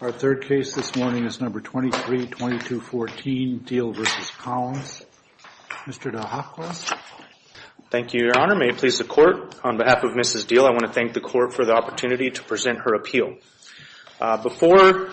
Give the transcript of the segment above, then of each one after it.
Our third case this morning is No. 232214, Diehl v. Collins. Mr. DeHoffkos. Thank you, Your Honor. May it please the Court, on behalf of Mrs. Diehl, I want to thank the Court for the opportunity to present her appeal. Before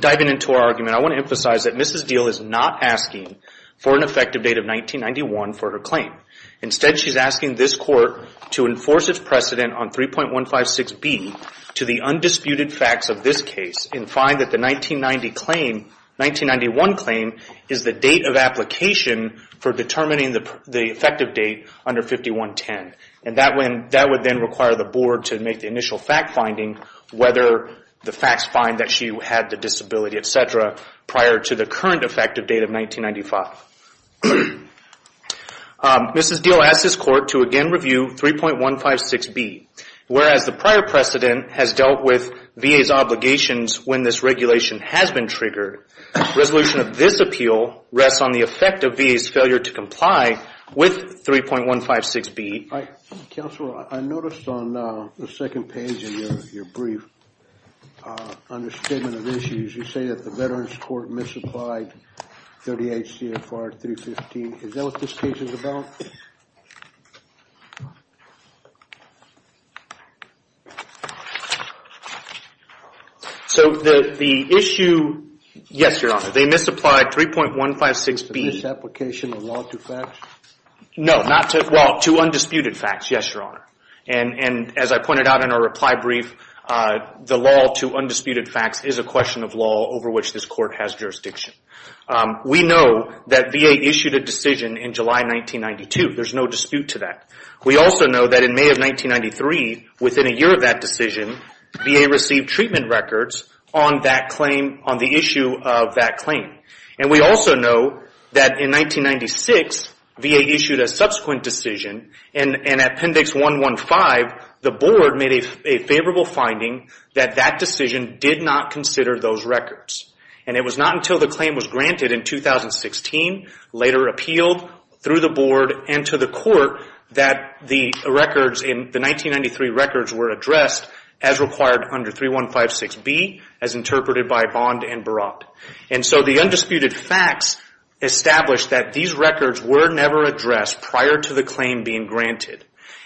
diving into our argument, I want to emphasize that Mrs. Diehl is not asking for an effective date of 1991 for her claim. Instead, she's asking this Court to enforce its precedent on 3.156B to the undisputed facts of this case and find that the 1990 claim, 1991 claim, is the date of application for determining the effective date under 5110. And that would then require the Board to make the initial fact-finding whether the facts find that she had the disability, etc., prior to the current effective date of 1995. Mrs. Diehl asks this Court to again review 3.156B. Whereas the prior precedent has dealt with VA's obligations when this regulation has been triggered, resolution of this appeal rests on the effect of VA's failure to comply with 3.156B. Counsel, I noticed on the second page of your brief, under Statement of Issues, you say that the Veterans Court misapplied 38 CFR 315. Is that what this case is about? So the issue, yes, Your Honor, they misapplied 3.156B. To this application of law to facts? No, not to, well, to undisputed facts, yes, Your Honor. And as I pointed out in our reply brief, the law to undisputed facts is a question of law over which this Court has jurisdiction. We know that VA issued a decision in July 1992. There's no dispute to that. We also know that in May of 1993, within a year of that decision, VA received treatment records on that claim, on the issue of that claim. And we also know that in 1996, VA issued a subsequent decision. And in Appendix 115, the Board made a favorable finding that that decision did not consider those records. And it was not until the claim was granted in 2016, later appealed through the Board and to the Court, that the records in the 1993 records were addressed as required under 3156B, as interpreted by Bond and Baratt. And so the undisputed facts establish that these records were never addressed prior to the claim being granted.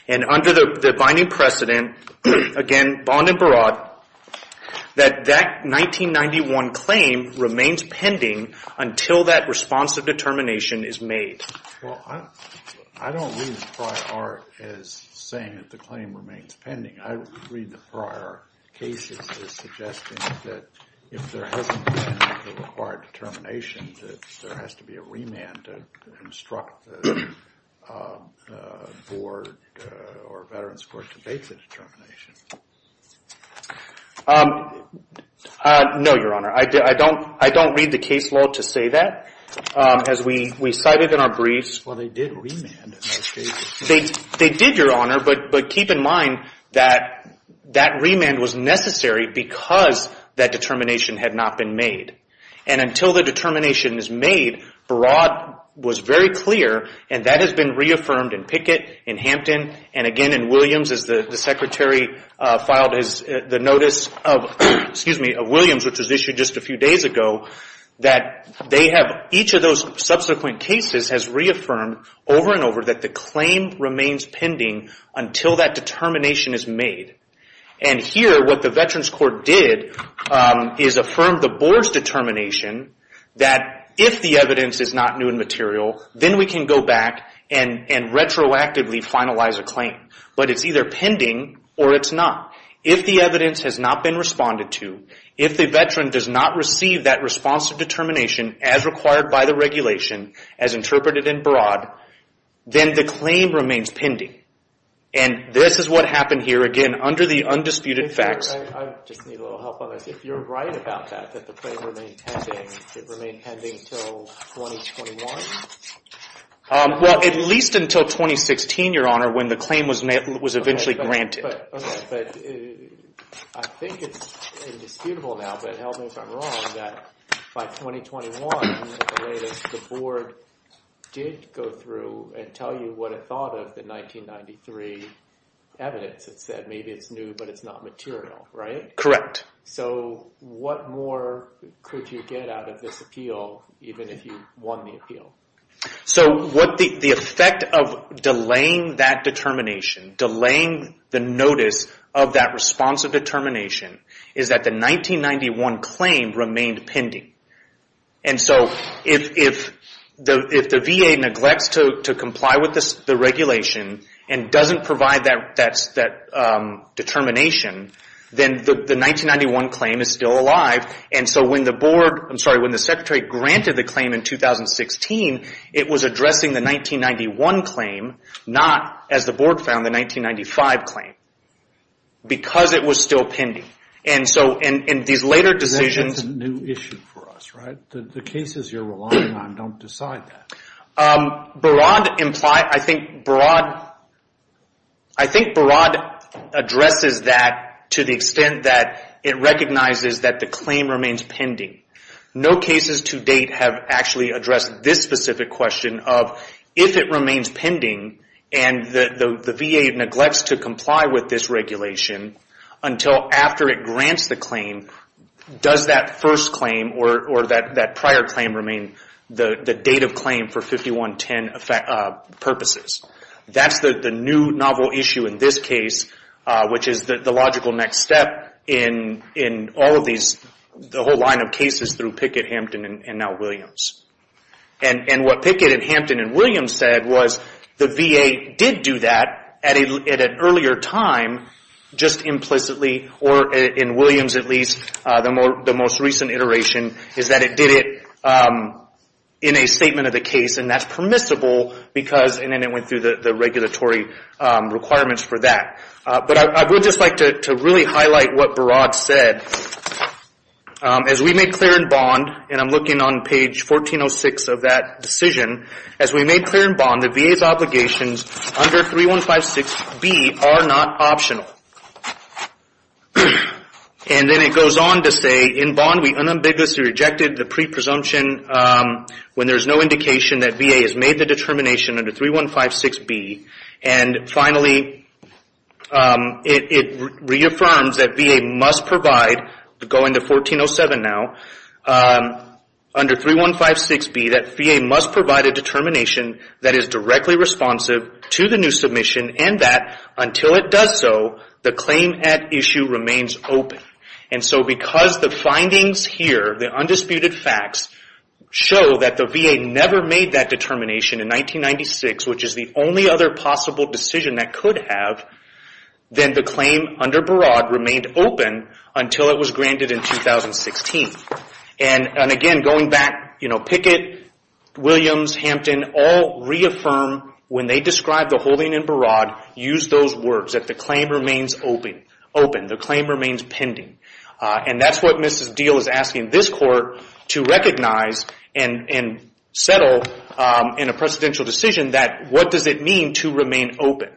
And under the binding precedent, again, Bond and Baratt, that that 1991 claim remains pending until that responsive determination is made. Well, I don't read the prior art as saying that the claim remains pending. I read the prior cases as suggesting that if there hasn't been a required determination, that there has to be a remand to instruct the Board or Veterans Court to make the determination. No, Your Honor. I don't read the case law to say that. As we cited in our briefs. Well, they did remand in those cases. They did, Your Honor, but keep in mind that that remand was necessary because that determination had not been made. And until the determination is made, Baratt was very clear, and that has been reaffirmed in Pickett, in Hampton, and again in Williams as the Secretary filed the notice of Williams, which was issued just a few days ago, that each of those subsequent cases has reaffirmed over and over that the claim remains pending until that determination is made. And here, what the Veterans Court did is affirm the Board's determination that if the evidence is not new and material, then we can go back and retroactively finalize a claim. But it's either pending or it's not. If the evidence has not been responded to, if the Veteran does not receive that response to determination as required by the regulation, as interpreted in Baratt, then the claim remains pending. And this is what happened here, again, under the undisputed facts. I just need a little help on this. If you're right about that, that the claim remained pending, it remained pending until 2021? Well, at least until 2016, Your Honor, when the claim was eventually granted. But I think it's indisputable now, but help me if I'm wrong, that by 2021, at the latest, the Board did go through and tell you what it thought of the 1993 evidence. It said maybe it's new, but it's not material, right? Correct. So what more could you get out of this appeal, even if you won the appeal? So the effect of delaying that determination, delaying the notice of that responsive determination, is that the 1991 claim remained pending. And so if the VA neglects to comply with the regulation and doesn't provide that determination, then the 1991 claim is still alive. And so when the Board, I'm sorry, when the Secretary granted the claim in 2016, it was addressing the 1991 claim, not, as the Board found, the 1995 claim, because it was still pending. And so in these later decisions... That's a new issue for us, right? The cases you're relying on don't decide that. Barad, I think Barad addresses that to the extent that it recognizes that the claim remains pending. No cases to date have actually addressed this specific question of if it remains pending and the VA neglects to comply with this regulation until after it grants the claim, does that first claim or that prior claim remain the date of claim for 5110 purposes? That's the new novel issue in this case, which is the logical next step in all of these, the whole line of cases through Pickett, Hampton, and now Williams. And what Pickett and Hampton and Williams said was the VA did do that at an earlier time, just implicitly, or in Williams at least, the most recent iteration, is that it did it in a statement of the case, and that's permissible because, and then it went through the regulatory requirements for that. But I would just like to really highlight what Barad said. As we made clear in Bond, and I'm looking on page 1406 of that decision, as we made clear in Bond that VA's obligations under 3156B are not optional. And then it goes on to say, in Bond, we unambiguously rejected the pre-presumption when there's no indication that VA has made the determination under 3156B. And finally, it reaffirms that VA must provide, going to 1407 now, under 3156B, that VA must provide a determination that is directly responsive to the new submission and that, until it does so, the claim at issue remains open. And so because the findings here, the undisputed facts, show that the VA never made that determination in 1996, which is the only other possible decision that could have, then the claim under Barad remained open until it was granted in 2016. And again, going back, Pickett, Williams, Hampton all reaffirm, when they describe the holding in Barad, use those words, that the claim remains open. The claim remains pending. And that's what Mrs. Deal is asking this court to recognize and settle in a precedential decision that, what does it mean to remain open?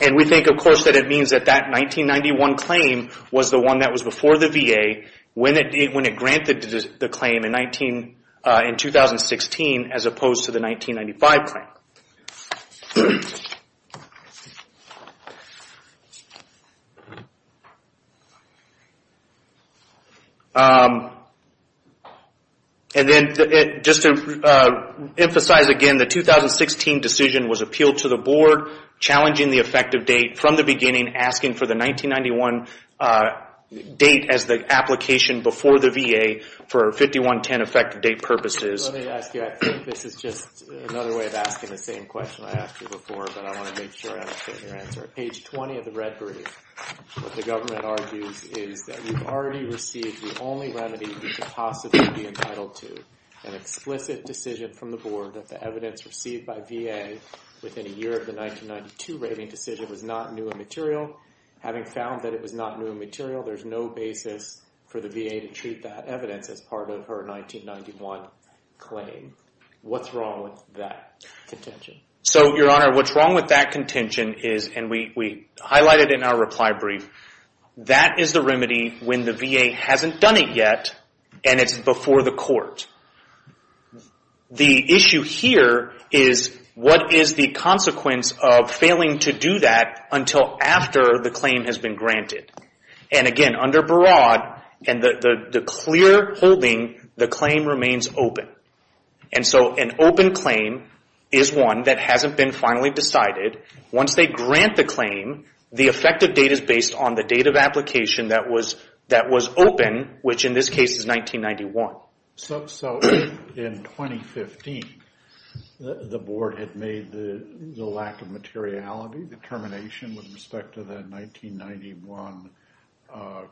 And we think, of course, that it means that that 1991 claim was the one that was before the VA when it granted the claim in 2016 as opposed to the 1995 claim. And then, just to emphasize again, the 2016 decision was appealed to the board, challenging the effective date from the beginning, asking for the 1991 date as the application before the VA for 5110 effective date purposes. Let me ask you, I think this is just another way of asking the same question I asked you before, but I want to make sure I understand your answer. Page 20 of the red brief, what the government argues is that we've already received the only remedy we could possibly be entitled to, an explicit decision from the board that the evidence received by VA within a year of the 1992 rating decision was not new and material. Having found that it was not new and material, there's no basis for the VA to treat that evidence as part of her 1991 claim. What's wrong with that contention? So, Your Honor, what's wrong with that contention is, and we highlighted in our reply brief, that is the remedy when the VA hasn't done it yet and it's before the court. The issue here is what is the consequence of failing to do that until after the claim has been granted. Again, under Barad, the clear holding, the claim remains open. An open claim is one that hasn't been finally decided. Once they grant the claim, the effective date is based on the date of application that was open, which in this case is 1991. So, in 2015, the board had made the lack of materiality, determination with respect to the 1991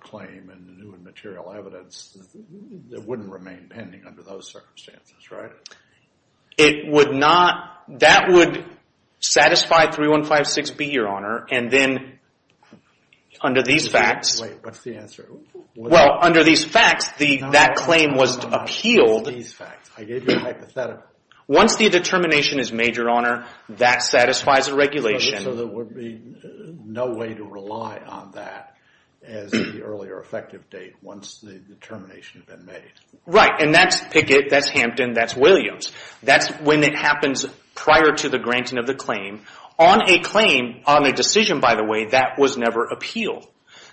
claim and new and material evidence that wouldn't remain pending under those circumstances, right? It would not. That would satisfy 3156B, Your Honor, and then under these facts. Wait, what's the answer? Well, under these facts, that claim was appealed. I gave you a hypothetical. Once the determination is made, Your Honor, that satisfies the regulation. So there would be no way to rely on that as the earlier effective date once the determination had been made. Right, and that's Pickett, that's Hampton, that's Williams. That's when it happens prior to the granting of the claim. On a claim, on a decision, by the way, that was never appealed.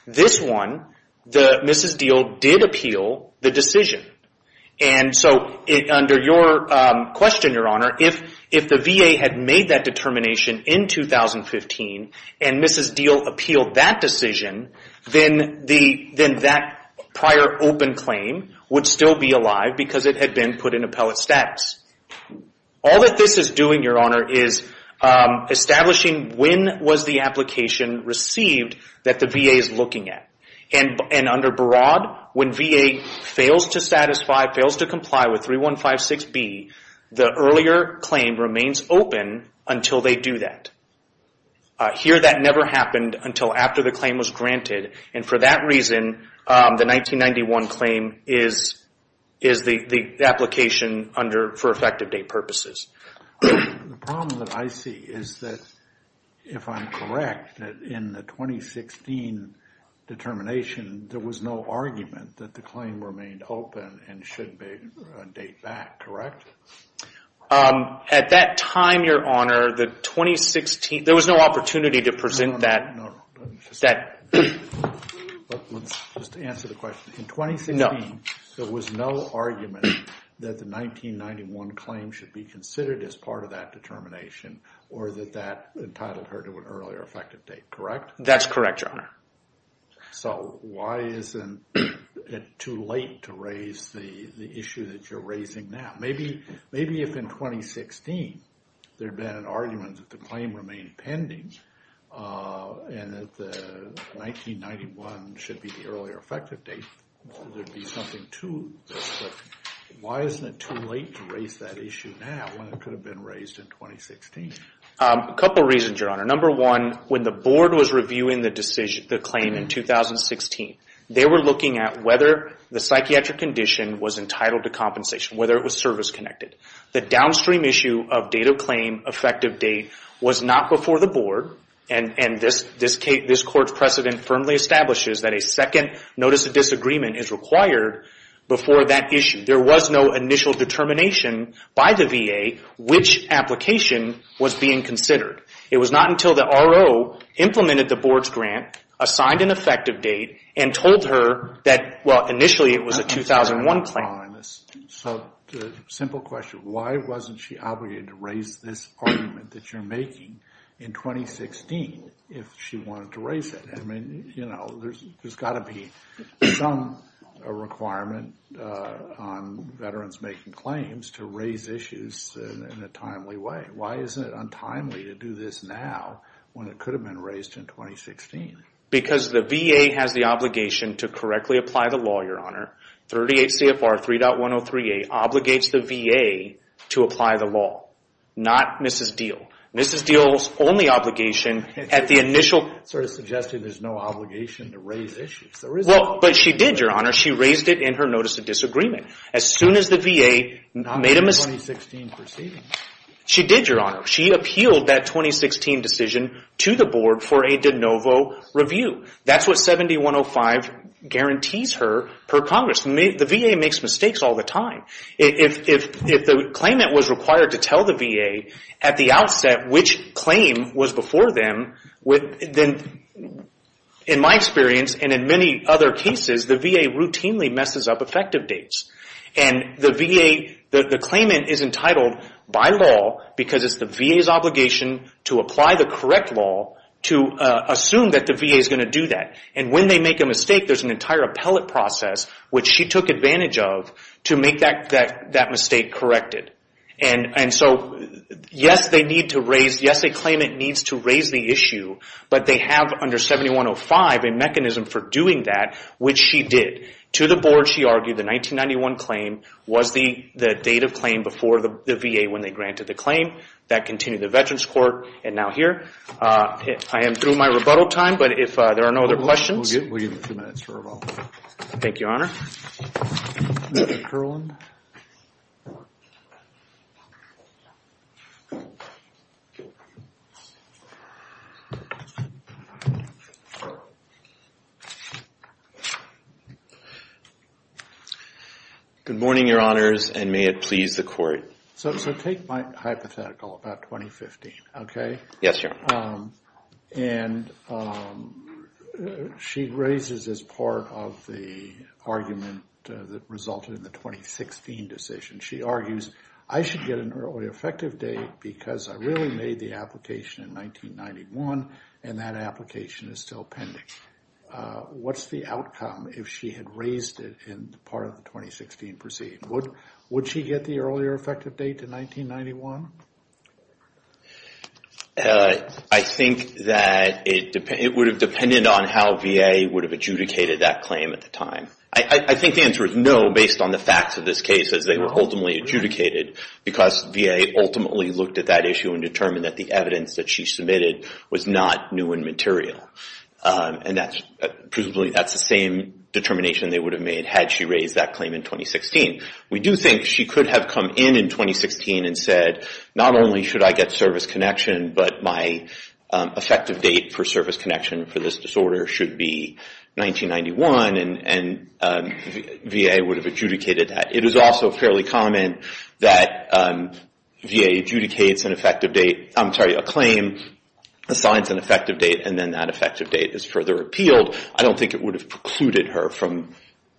This one, Mrs. Deal did appeal the decision. So under your question, Your Honor, if the VA had made that determination in 2015 and Mrs. Deal appealed that decision, then that prior open claim would still be alive because it had been put in appellate status. All that this is doing, Your Honor, is establishing when was the application received that the VA is looking at. And under Broad, when VA fails to satisfy, fails to comply with 3156B, the earlier claim remains open until they do that. Here that never happened until after the claim was granted, and for that reason, the 1991 claim is the application for effective date purposes. The problem that I see is that, if I'm correct, that in the 2016 determination, there was no argument that the claim remained open and should date back, correct? At that time, Your Honor, there was no opportunity to present that. Let's just answer the question. In 2016, there was no argument that the 1991 claim should be considered as part of that determination or that that entitled her to an earlier effective date, correct? That's correct, Your Honor. So why isn't it too late to raise the issue that you're raising now? Maybe if in 2016 there had been an argument that the claim remained pending and that the 1991 should be the earlier effective date, there'd be something to this. But why isn't it too late to raise that issue now when it could have been raised in 2016? A couple of reasons, Your Honor. Number one, when the board was reviewing the claim in 2016, they were looking at whether the psychiatric condition was entitled to compensation, whether it was service-connected. The downstream issue of date of claim, effective date, was not before the board, and this Court's precedent firmly establishes that a second notice of disagreement is required before that issue. There was no initial determination by the VA which application was being considered. It was not until the RO implemented the board's grant, assigned an effective date, and told her that, well, initially it was a 2001 claim. So the simple question, why wasn't she obligated to raise this argument that you're making in 2016 if she wanted to raise it? I mean, you know, there's got to be some requirement on veterans making claims to raise issues in a timely way. Why isn't it untimely to do this now when it could have been raised in 2016? Because the VA has the obligation to correctly apply the law, Your Honor. 38 CFR 3.103a obligates the VA to apply the law, not Mrs. Diehl. Mrs. Diehl's only obligation at the initial... Sort of suggested there's no obligation to raise issues. Well, but she did, Your Honor. She raised it in her notice of disagreement. As soon as the VA made a... Not in the 2016 proceeding. She did, Your Honor. She appealed that 2016 decision to the board for a de novo review. That's what 7105 guarantees her per Congress. The VA makes mistakes all the time. If the claimant was required to tell the VA at the outset which claim was before them, then in my experience and in many other cases, the VA routinely messes up effective dates. And the VA... The claimant is entitled by law because it's the VA's obligation to apply the correct law to assume that the VA is going to do that. And when they make a mistake, there's an entire appellate process, which she took advantage of to make that mistake corrected. And so, yes, they need to raise... Yes, the claimant needs to raise the issue, but they have under 7105 a mechanism for doing that, which she did. To the board, she argued the 1991 claim was the date of claim before the VA when they granted the claim. That continued in the Veterans Court and now here. I am through my rebuttal time, but if there are no other questions... We'll give you a few minutes for rebuttal. Thank you, Your Honor. Mr. Perlin. Good morning, Your Honors, and may it please the Court. So take my hypothetical about 2015, okay? Yes, Your Honor. And she raises as part of the argument that resulted in the 2016 decision, she argues I should get an early effective date because I really made the application in 1991 and that application is still pending. What's the outcome if she had raised it in part of the 2016 proceeding? Would she get the earlier effective date in 1991? I think that it would have depended on how VA would have adjudicated that claim at the time. I think the answer is no based on the facts of this case as they were ultimately adjudicated because VA ultimately looked at that issue and determined that the evidence that she submitted was not new and material. And presumably that's the same determination they would have made had she raised that claim in 2016. We do think she could have come in in 2016 and said not only should I get service connection, but my effective date for service connection for this disorder should be 1991, and VA would have adjudicated that. It is also fairly common that VA adjudicates an effective date, I'm sorry, a claim, assigns an effective date, and then that effective date is further appealed. I don't think it would have precluded her from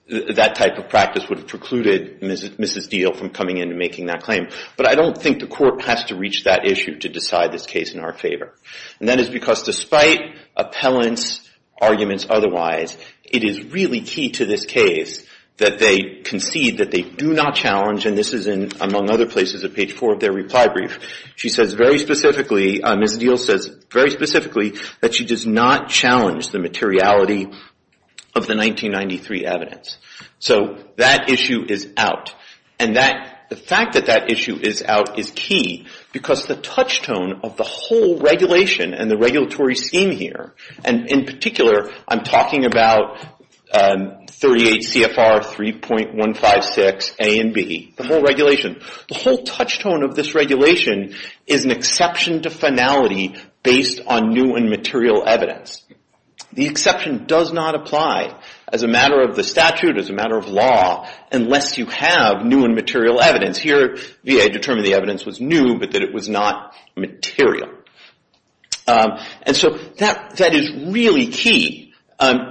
that type of practice, would have precluded Mrs. Deal from coming in and making that claim. But I don't think the court has to reach that issue to decide this case in our favor. And that is because despite appellants' arguments otherwise, it is really key to this case that they concede that they do not challenge, and this is in among other places at page four of their reply brief. She says very specifically, Mrs. Deal says very specifically, that she does not challenge the materiality of the 1993 evidence. So that issue is out. And the fact that that issue is out is key because the touch tone of the whole regulation and the regulatory scheme here, and in particular I'm talking about 38 CFR 3.156 A and B, the whole regulation, the whole touch tone of this regulation is an exception to finality based on new and material evidence. The exception does not apply as a matter of the statute, as a matter of law, unless you have new and material evidence. Here VA determined the evidence was new but that it was not material. And so that is really key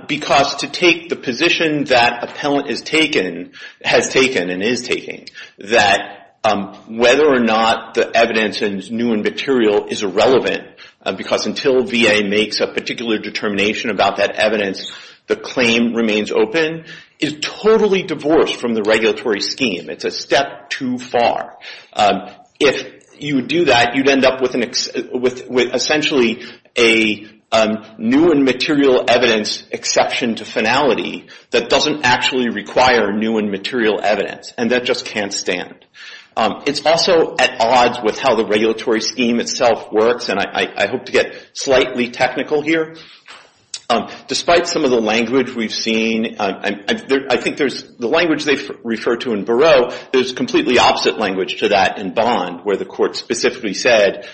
because to take the position that appellant has taken and is taking that whether or not the evidence is new and material is irrelevant because until VA makes a particular determination about that evidence, the claim remains open is totally divorced from the regulatory scheme. It's a step too far. If you do that, you'd end up with essentially a new and material evidence exception to finality that doesn't actually require new and material evidence, and that just can't stand. It's also at odds with how the regulatory scheme itself works, and I hope to get slightly technical here. Despite some of the language we've seen, I think the language they've referred to in Barreau, there's completely opposite language to that in Bond where the court specifically said,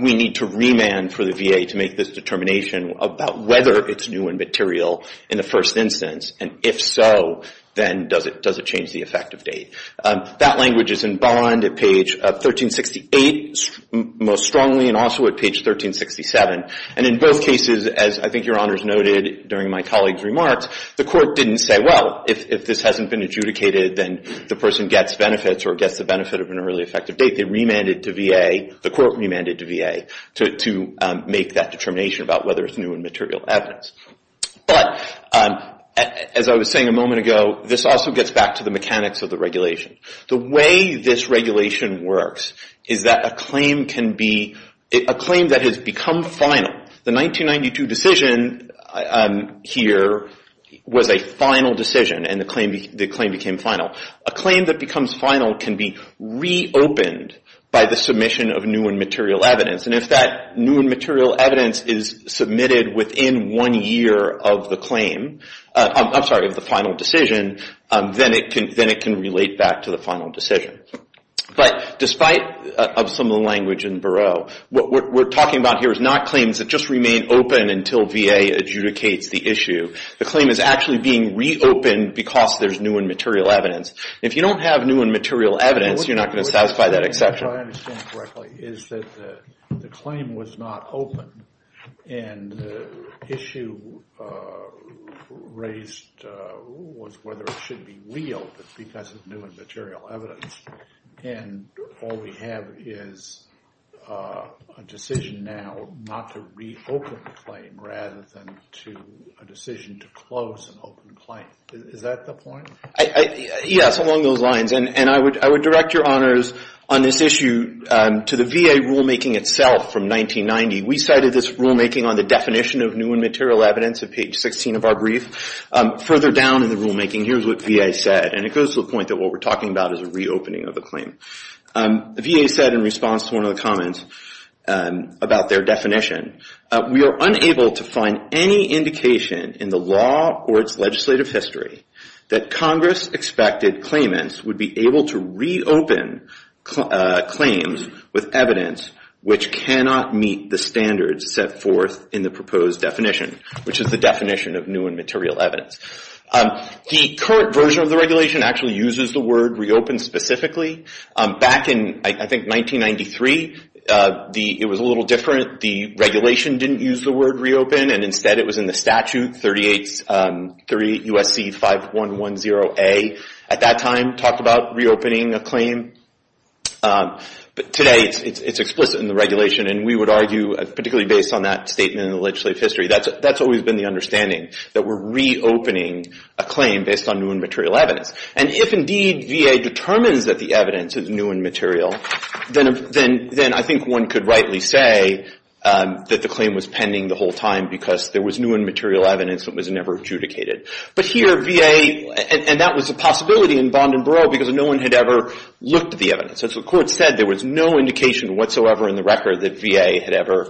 we need to remand for the VA to make this determination about whether it's new and material in the first instance, and if so, then does it change the effective date? That language is in Bond at page 1368 most strongly and also at page 1367. And in both cases, as I think Your Honors noted during my colleague's remarks, the court didn't say, well, if this hasn't been adjudicated, then the person gets benefits or gets the benefit of an early effective date. They remanded to VA, the court remanded to VA, to make that determination about whether it's new and material evidence. But as I was saying a moment ago, this also gets back to the mechanics of the regulation. The way this regulation works is that a claim can be a claim that has become final. The 1992 decision here was a final decision, and the claim became final. A claim that becomes final can be reopened by the submission of new and material evidence. And if that new and material evidence is submitted within one year of the claim, I'm sorry, of the final decision, then it can relate back to the final decision. But despite some of the language in Barreau, what we're talking about here is not claims that just remain open until VA adjudicates the issue. The claim is actually being reopened because there's new and material evidence. If you don't have new and material evidence, you're not going to satisfy that exception. What I understand correctly is that the claim was not open, and the issue raised was whether it should be reopened because of new and material evidence. And all we have is a decision now not to reopen the claim rather than to a decision to close an open claim. Is that the point? Yes, along those lines. And I would direct your honors on this issue to the VA rulemaking itself from 1990. We cited this rulemaking on the definition of new and material evidence at page 16 of our brief. Further down in the rulemaking, here's what VA said. And it goes to the point that what we're talking about is a reopening of the claim. VA said in response to one of the comments about their definition, we are unable to find any indication in the law or its legislative history that Congress-expected claimants would be able to reopen claims with evidence which cannot meet the standards set forth in the proposed definition, which is the definition of new and material evidence. The current version of the regulation actually uses the word reopen specifically. Back in, I think, 1993, it was a little different. The regulation didn't use the word reopen, and instead it was in the statute, 38 U.S.C. 5110A. At that time, it talked about reopening a claim. But today, it's explicit in the regulation, and we would argue, particularly based on that statement in the legislative history, that's always been the understanding, that we're reopening a claim based on new and material evidence. And if, indeed, VA determines that the evidence is new and material, then I think one could rightly say that the claim was pending the whole time because there was new and material evidence that was never adjudicated. But here, VA, and that was a possibility in Bond and Barreau because no one had ever looked at the evidence. And so the court said there was no indication whatsoever in the record that VA had ever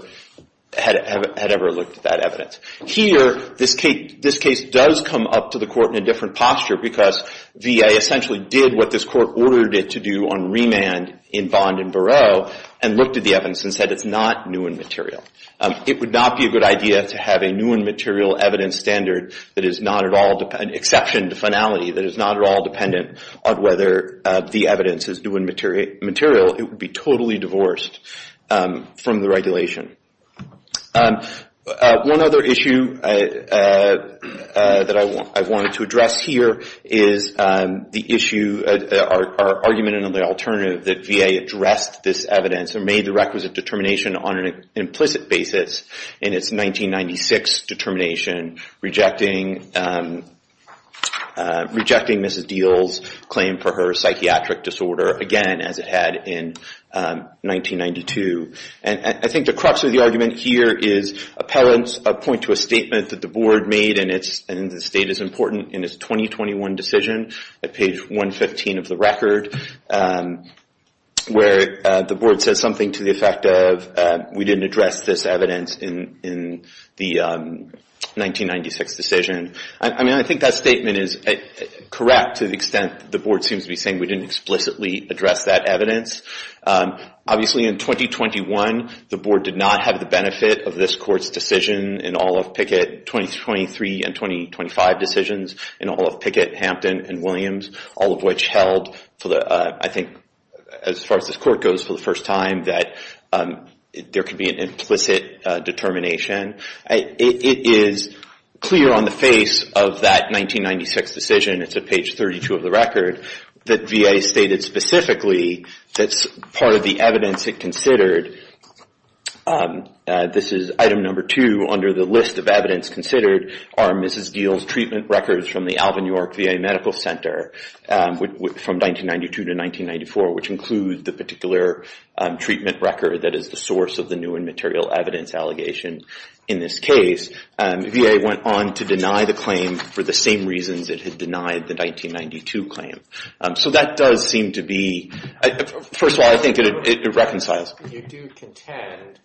looked at that evidence. Here, this case does come up to the court in a different posture because VA essentially did what this court ordered it to do on remand in Bond and Barreau and looked at the evidence and said it's not new and material. It would not be a good idea to have a new and material evidence standard that is not at all, an exception to finality, that is not at all dependent on whether the evidence is new and material. It would be totally divorced from the regulation. One other issue that I wanted to address here is the issue, our argument in the alternative that VA addressed this evidence or made the requisite determination on an implicit basis in its 1996 determination, rejecting Mrs. Diehl's claim for her psychiatric disorder again, as it had in 1992. And I think the crux of the argument here is appellants point to a statement that the board made, and the state is important, in its 2021 decision at page 115 of the record, where the board says something to the effect of, we didn't address this evidence in the 1996 decision. I mean, I think that statement is correct to the extent the board seems to be saying we didn't explicitly address that evidence. Obviously, in 2021, the board did not have the benefit of this court's decision in all of Pickett, 2023 and 2025 decisions, in all of Pickett, Hampton, and Williams, all of which held, I think, as far as this court goes, for the first time, that there could be an implicit determination. It is clear on the face of that 1996 decision, it's at page 32 of the record, that VA stated specifically that part of the evidence it considered, this is item number two under the list of evidence considered, are Mrs. Geale's treatment records from the Alvin York VA Medical Center, from 1992 to 1994, which include the particular treatment record that is the source of the new and material evidence allegation in this case. VA went on to deny the claim for the same reasons it had denied the 1992 claim. So that does seem to be, first of all, I think it reconciles. You do contend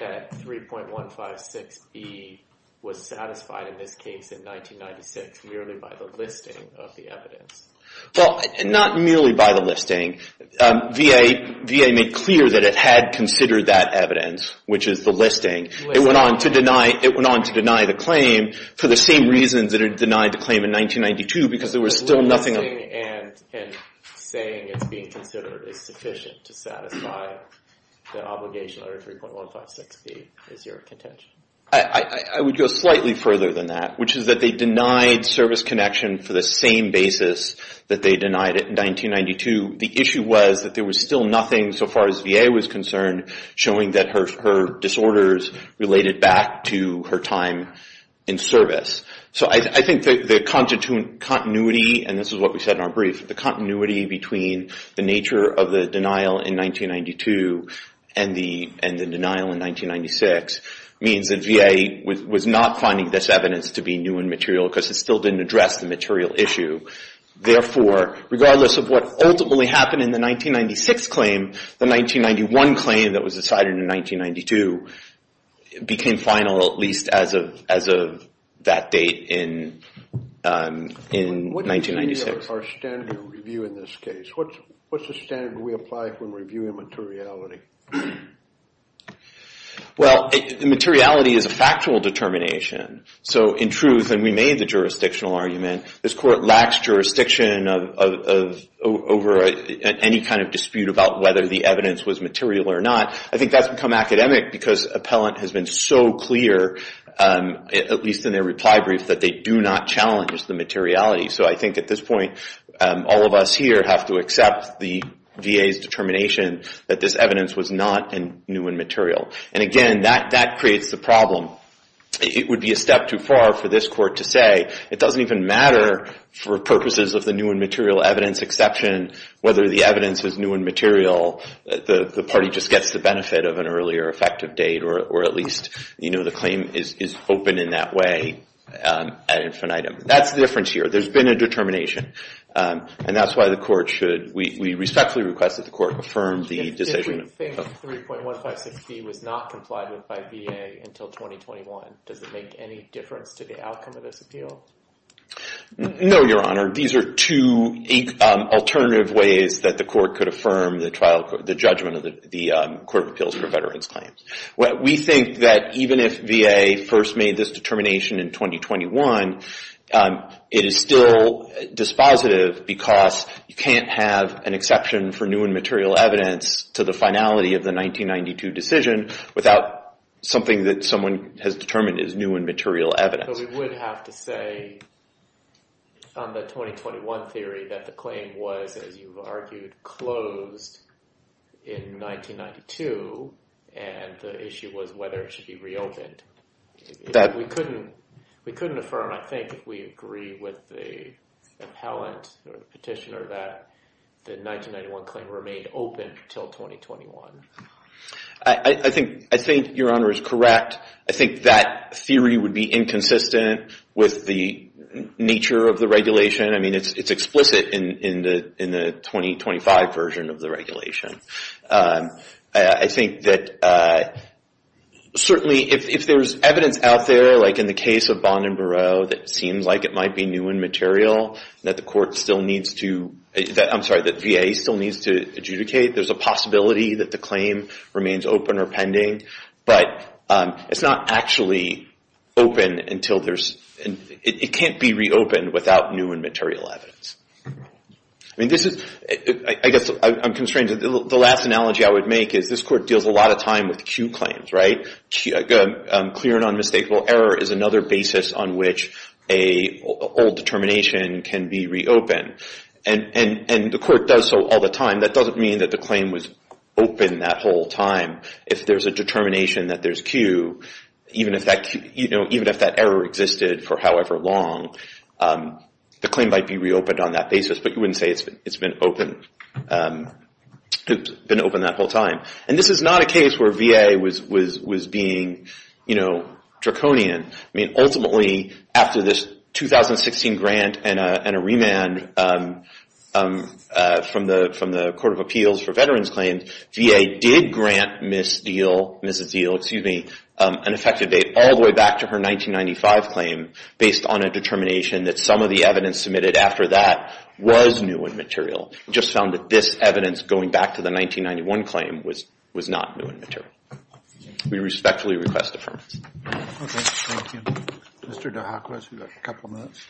that 3.156B was satisfied in this case in 1996, merely by the listing of the evidence. Well, not merely by the listing. VA made clear that it had considered that evidence, which is the listing. It went on to deny the claim for the same reasons that it denied the claim in 1992, because there was still nothing. The listing and saying it's being considered is sufficient to satisfy the obligation under 3.156B, is your contention? I would go slightly further than that, which is that they denied service connection for the same basis that they denied it in 1992. The issue was that there was still nothing, so far as VA was concerned, showing that her disorders related back to her time in service. So I think the continuity, and this is what we said in our brief, the continuity between the nature of the denial in 1992 and the denial in 1996, means that VA was not finding this evidence to be new and material, because it still didn't address the material issue. Therefore, regardless of what ultimately happened in the 1996 claim, the 1991 claim that was decided in 1992 became final, at least as of that date in 1996. What is our standard of review in this case? What's the standard we apply when reviewing materiality? Well, materiality is a factual determination. So in truth, and we made the jurisdictional argument, this Court lacks jurisdiction over any kind of dispute about whether the evidence was material or not. I think that's become academic, because appellant has been so clear, at least in their reply brief, that they do not challenge the materiality. So I think at this point, all of us here have to accept the VA's determination that this evidence was not new and material. And again, that creates the problem. It would be a step too far for this Court to say, it doesn't even matter for purposes of the new and material evidence exception, whether the evidence is new and material, the party just gets the benefit of an earlier effective date, or at least the claim is open in that way ad infinitum. That's the difference here. There's been a determination. And that's why the Court should, we respectfully request that the Court affirm the decision. If we think 3.156B was not complied with by VA until 2021, does it make any difference to the outcome of this appeal? No, Your Honor. These are two alternative ways that the Court could affirm the judgment of the Court of Appeals for Veterans Claims. We think that even if VA first made this determination in 2021, it is still dispositive, because you can't have an exception for new and material evidence to the finality of the 1992 decision without something that someone has determined is new and material evidence. But we would have to say on the 2021 theory that the claim was, as you've argued, closed in 1992, and the issue was whether it should be reopened. We couldn't affirm, I think, if we agree with the appellant or the petitioner, that the 1991 claim remained open until 2021. I think Your Honor is correct. I think that theory would be inconsistent with the nature of the regulation. I mean, it's explicit in the 2025 version of the regulation. I think that certainly if there's evidence out there, like in the case of Bond and Bureau, that seems like it might be new and material, that VA still needs to adjudicate. There's a possibility that the claim remains open or pending, but it can't be reopened without new and material evidence. I guess I'm constrained. The last analogy I would make is this Court deals a lot of time with Q claims, right? I think a clear and unmistakable error is another basis on which an old determination can be reopened. And the Court does so all the time. That doesn't mean that the claim was open that whole time. If there's a determination that there's Q, even if that error existed for however long, the claim might be reopened on that basis, but you wouldn't say it's been open that whole time. And this is not a case where VA was being, you know, draconian. I mean, ultimately, after this 2016 grant and a remand from the Court of Appeals for Veterans Claims, VA did grant Ms. Diehl an effective date all the way back to her 1995 claim, based on a determination that some of the evidence submitted after that was new and material. We just found that this evidence, going back to the 1991 claim, was not new and material. We respectfully request deferment. Okay, thank you. Mr. DeHacquez, you've got a couple minutes.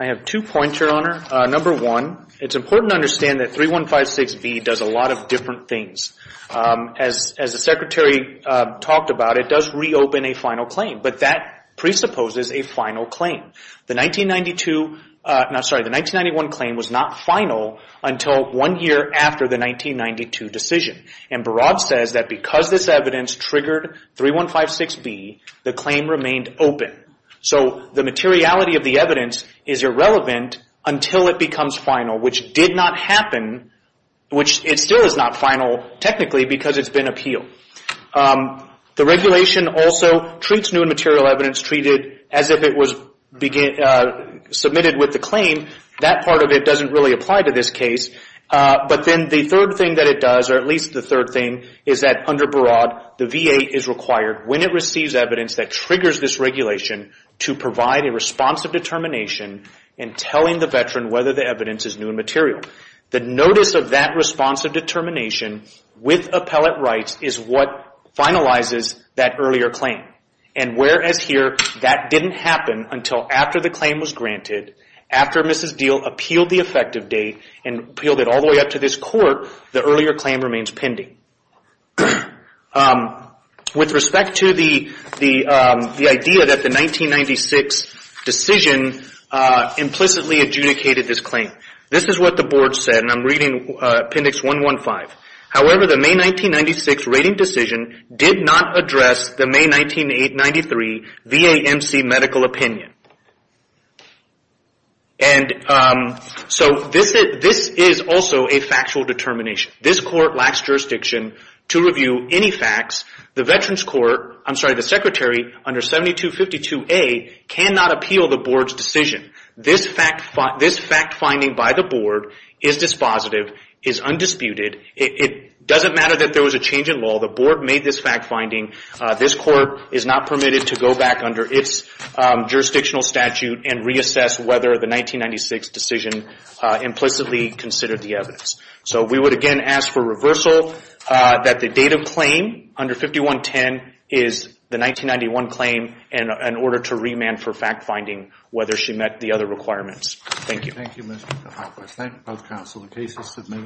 I have two points, Your Honor. Number one, it's important to understand that 3156B does a lot of different things. As the Secretary talked about, it does reopen a final claim, but that presupposes a final claim. The 1992, no, sorry, the 1991 claim was not final until one year after the 1992 decision. And Barad says that because this evidence triggered 3156B, the claim remained open. So the materiality of the evidence is irrelevant until it becomes final, which did not happen, which it still is not final technically because it's been appealed. The regulation also treats new and material evidence, treat it as if it was submitted with the claim. That part of it doesn't really apply to this case. But then the third thing that it does, or at least the third thing, is that under Barad, the VA is required, when it receives evidence that triggers this regulation, to provide a response of determination in telling the veteran whether the evidence is new and material. The notice of that response of determination with appellate rights is what finalizes that earlier claim. And whereas here, that didn't happen until after the claim was granted, after Mrs. Deal appealed the effective date and appealed it all the way up to this court, the earlier claim remains pending. With respect to the idea that the 1996 decision implicitly adjudicated this claim, this is what the board said, and I'm reading Appendix 115. However, the May 1996 rating decision did not address the May 1993 VAMC medical opinion. And so this is also a factual determination. This court lacks jurisdiction to review any facts. The Secretary under 7252A cannot appeal the board's decision. This fact-finding by the board is dispositive, is undisputed. It doesn't matter that there was a change in law. The board made this fact-finding. This court is not permitted to go back under its jurisdictional statute and reassess whether the 1996 decision implicitly considered the evidence. So we would again ask for reversal that the date of claim under 5110 is the 1991 claim in order to remand for fact-finding whether she met the other requirements. Thank you. Thank you, Mr. DeHoff. I thank both counsel. The case is submitted.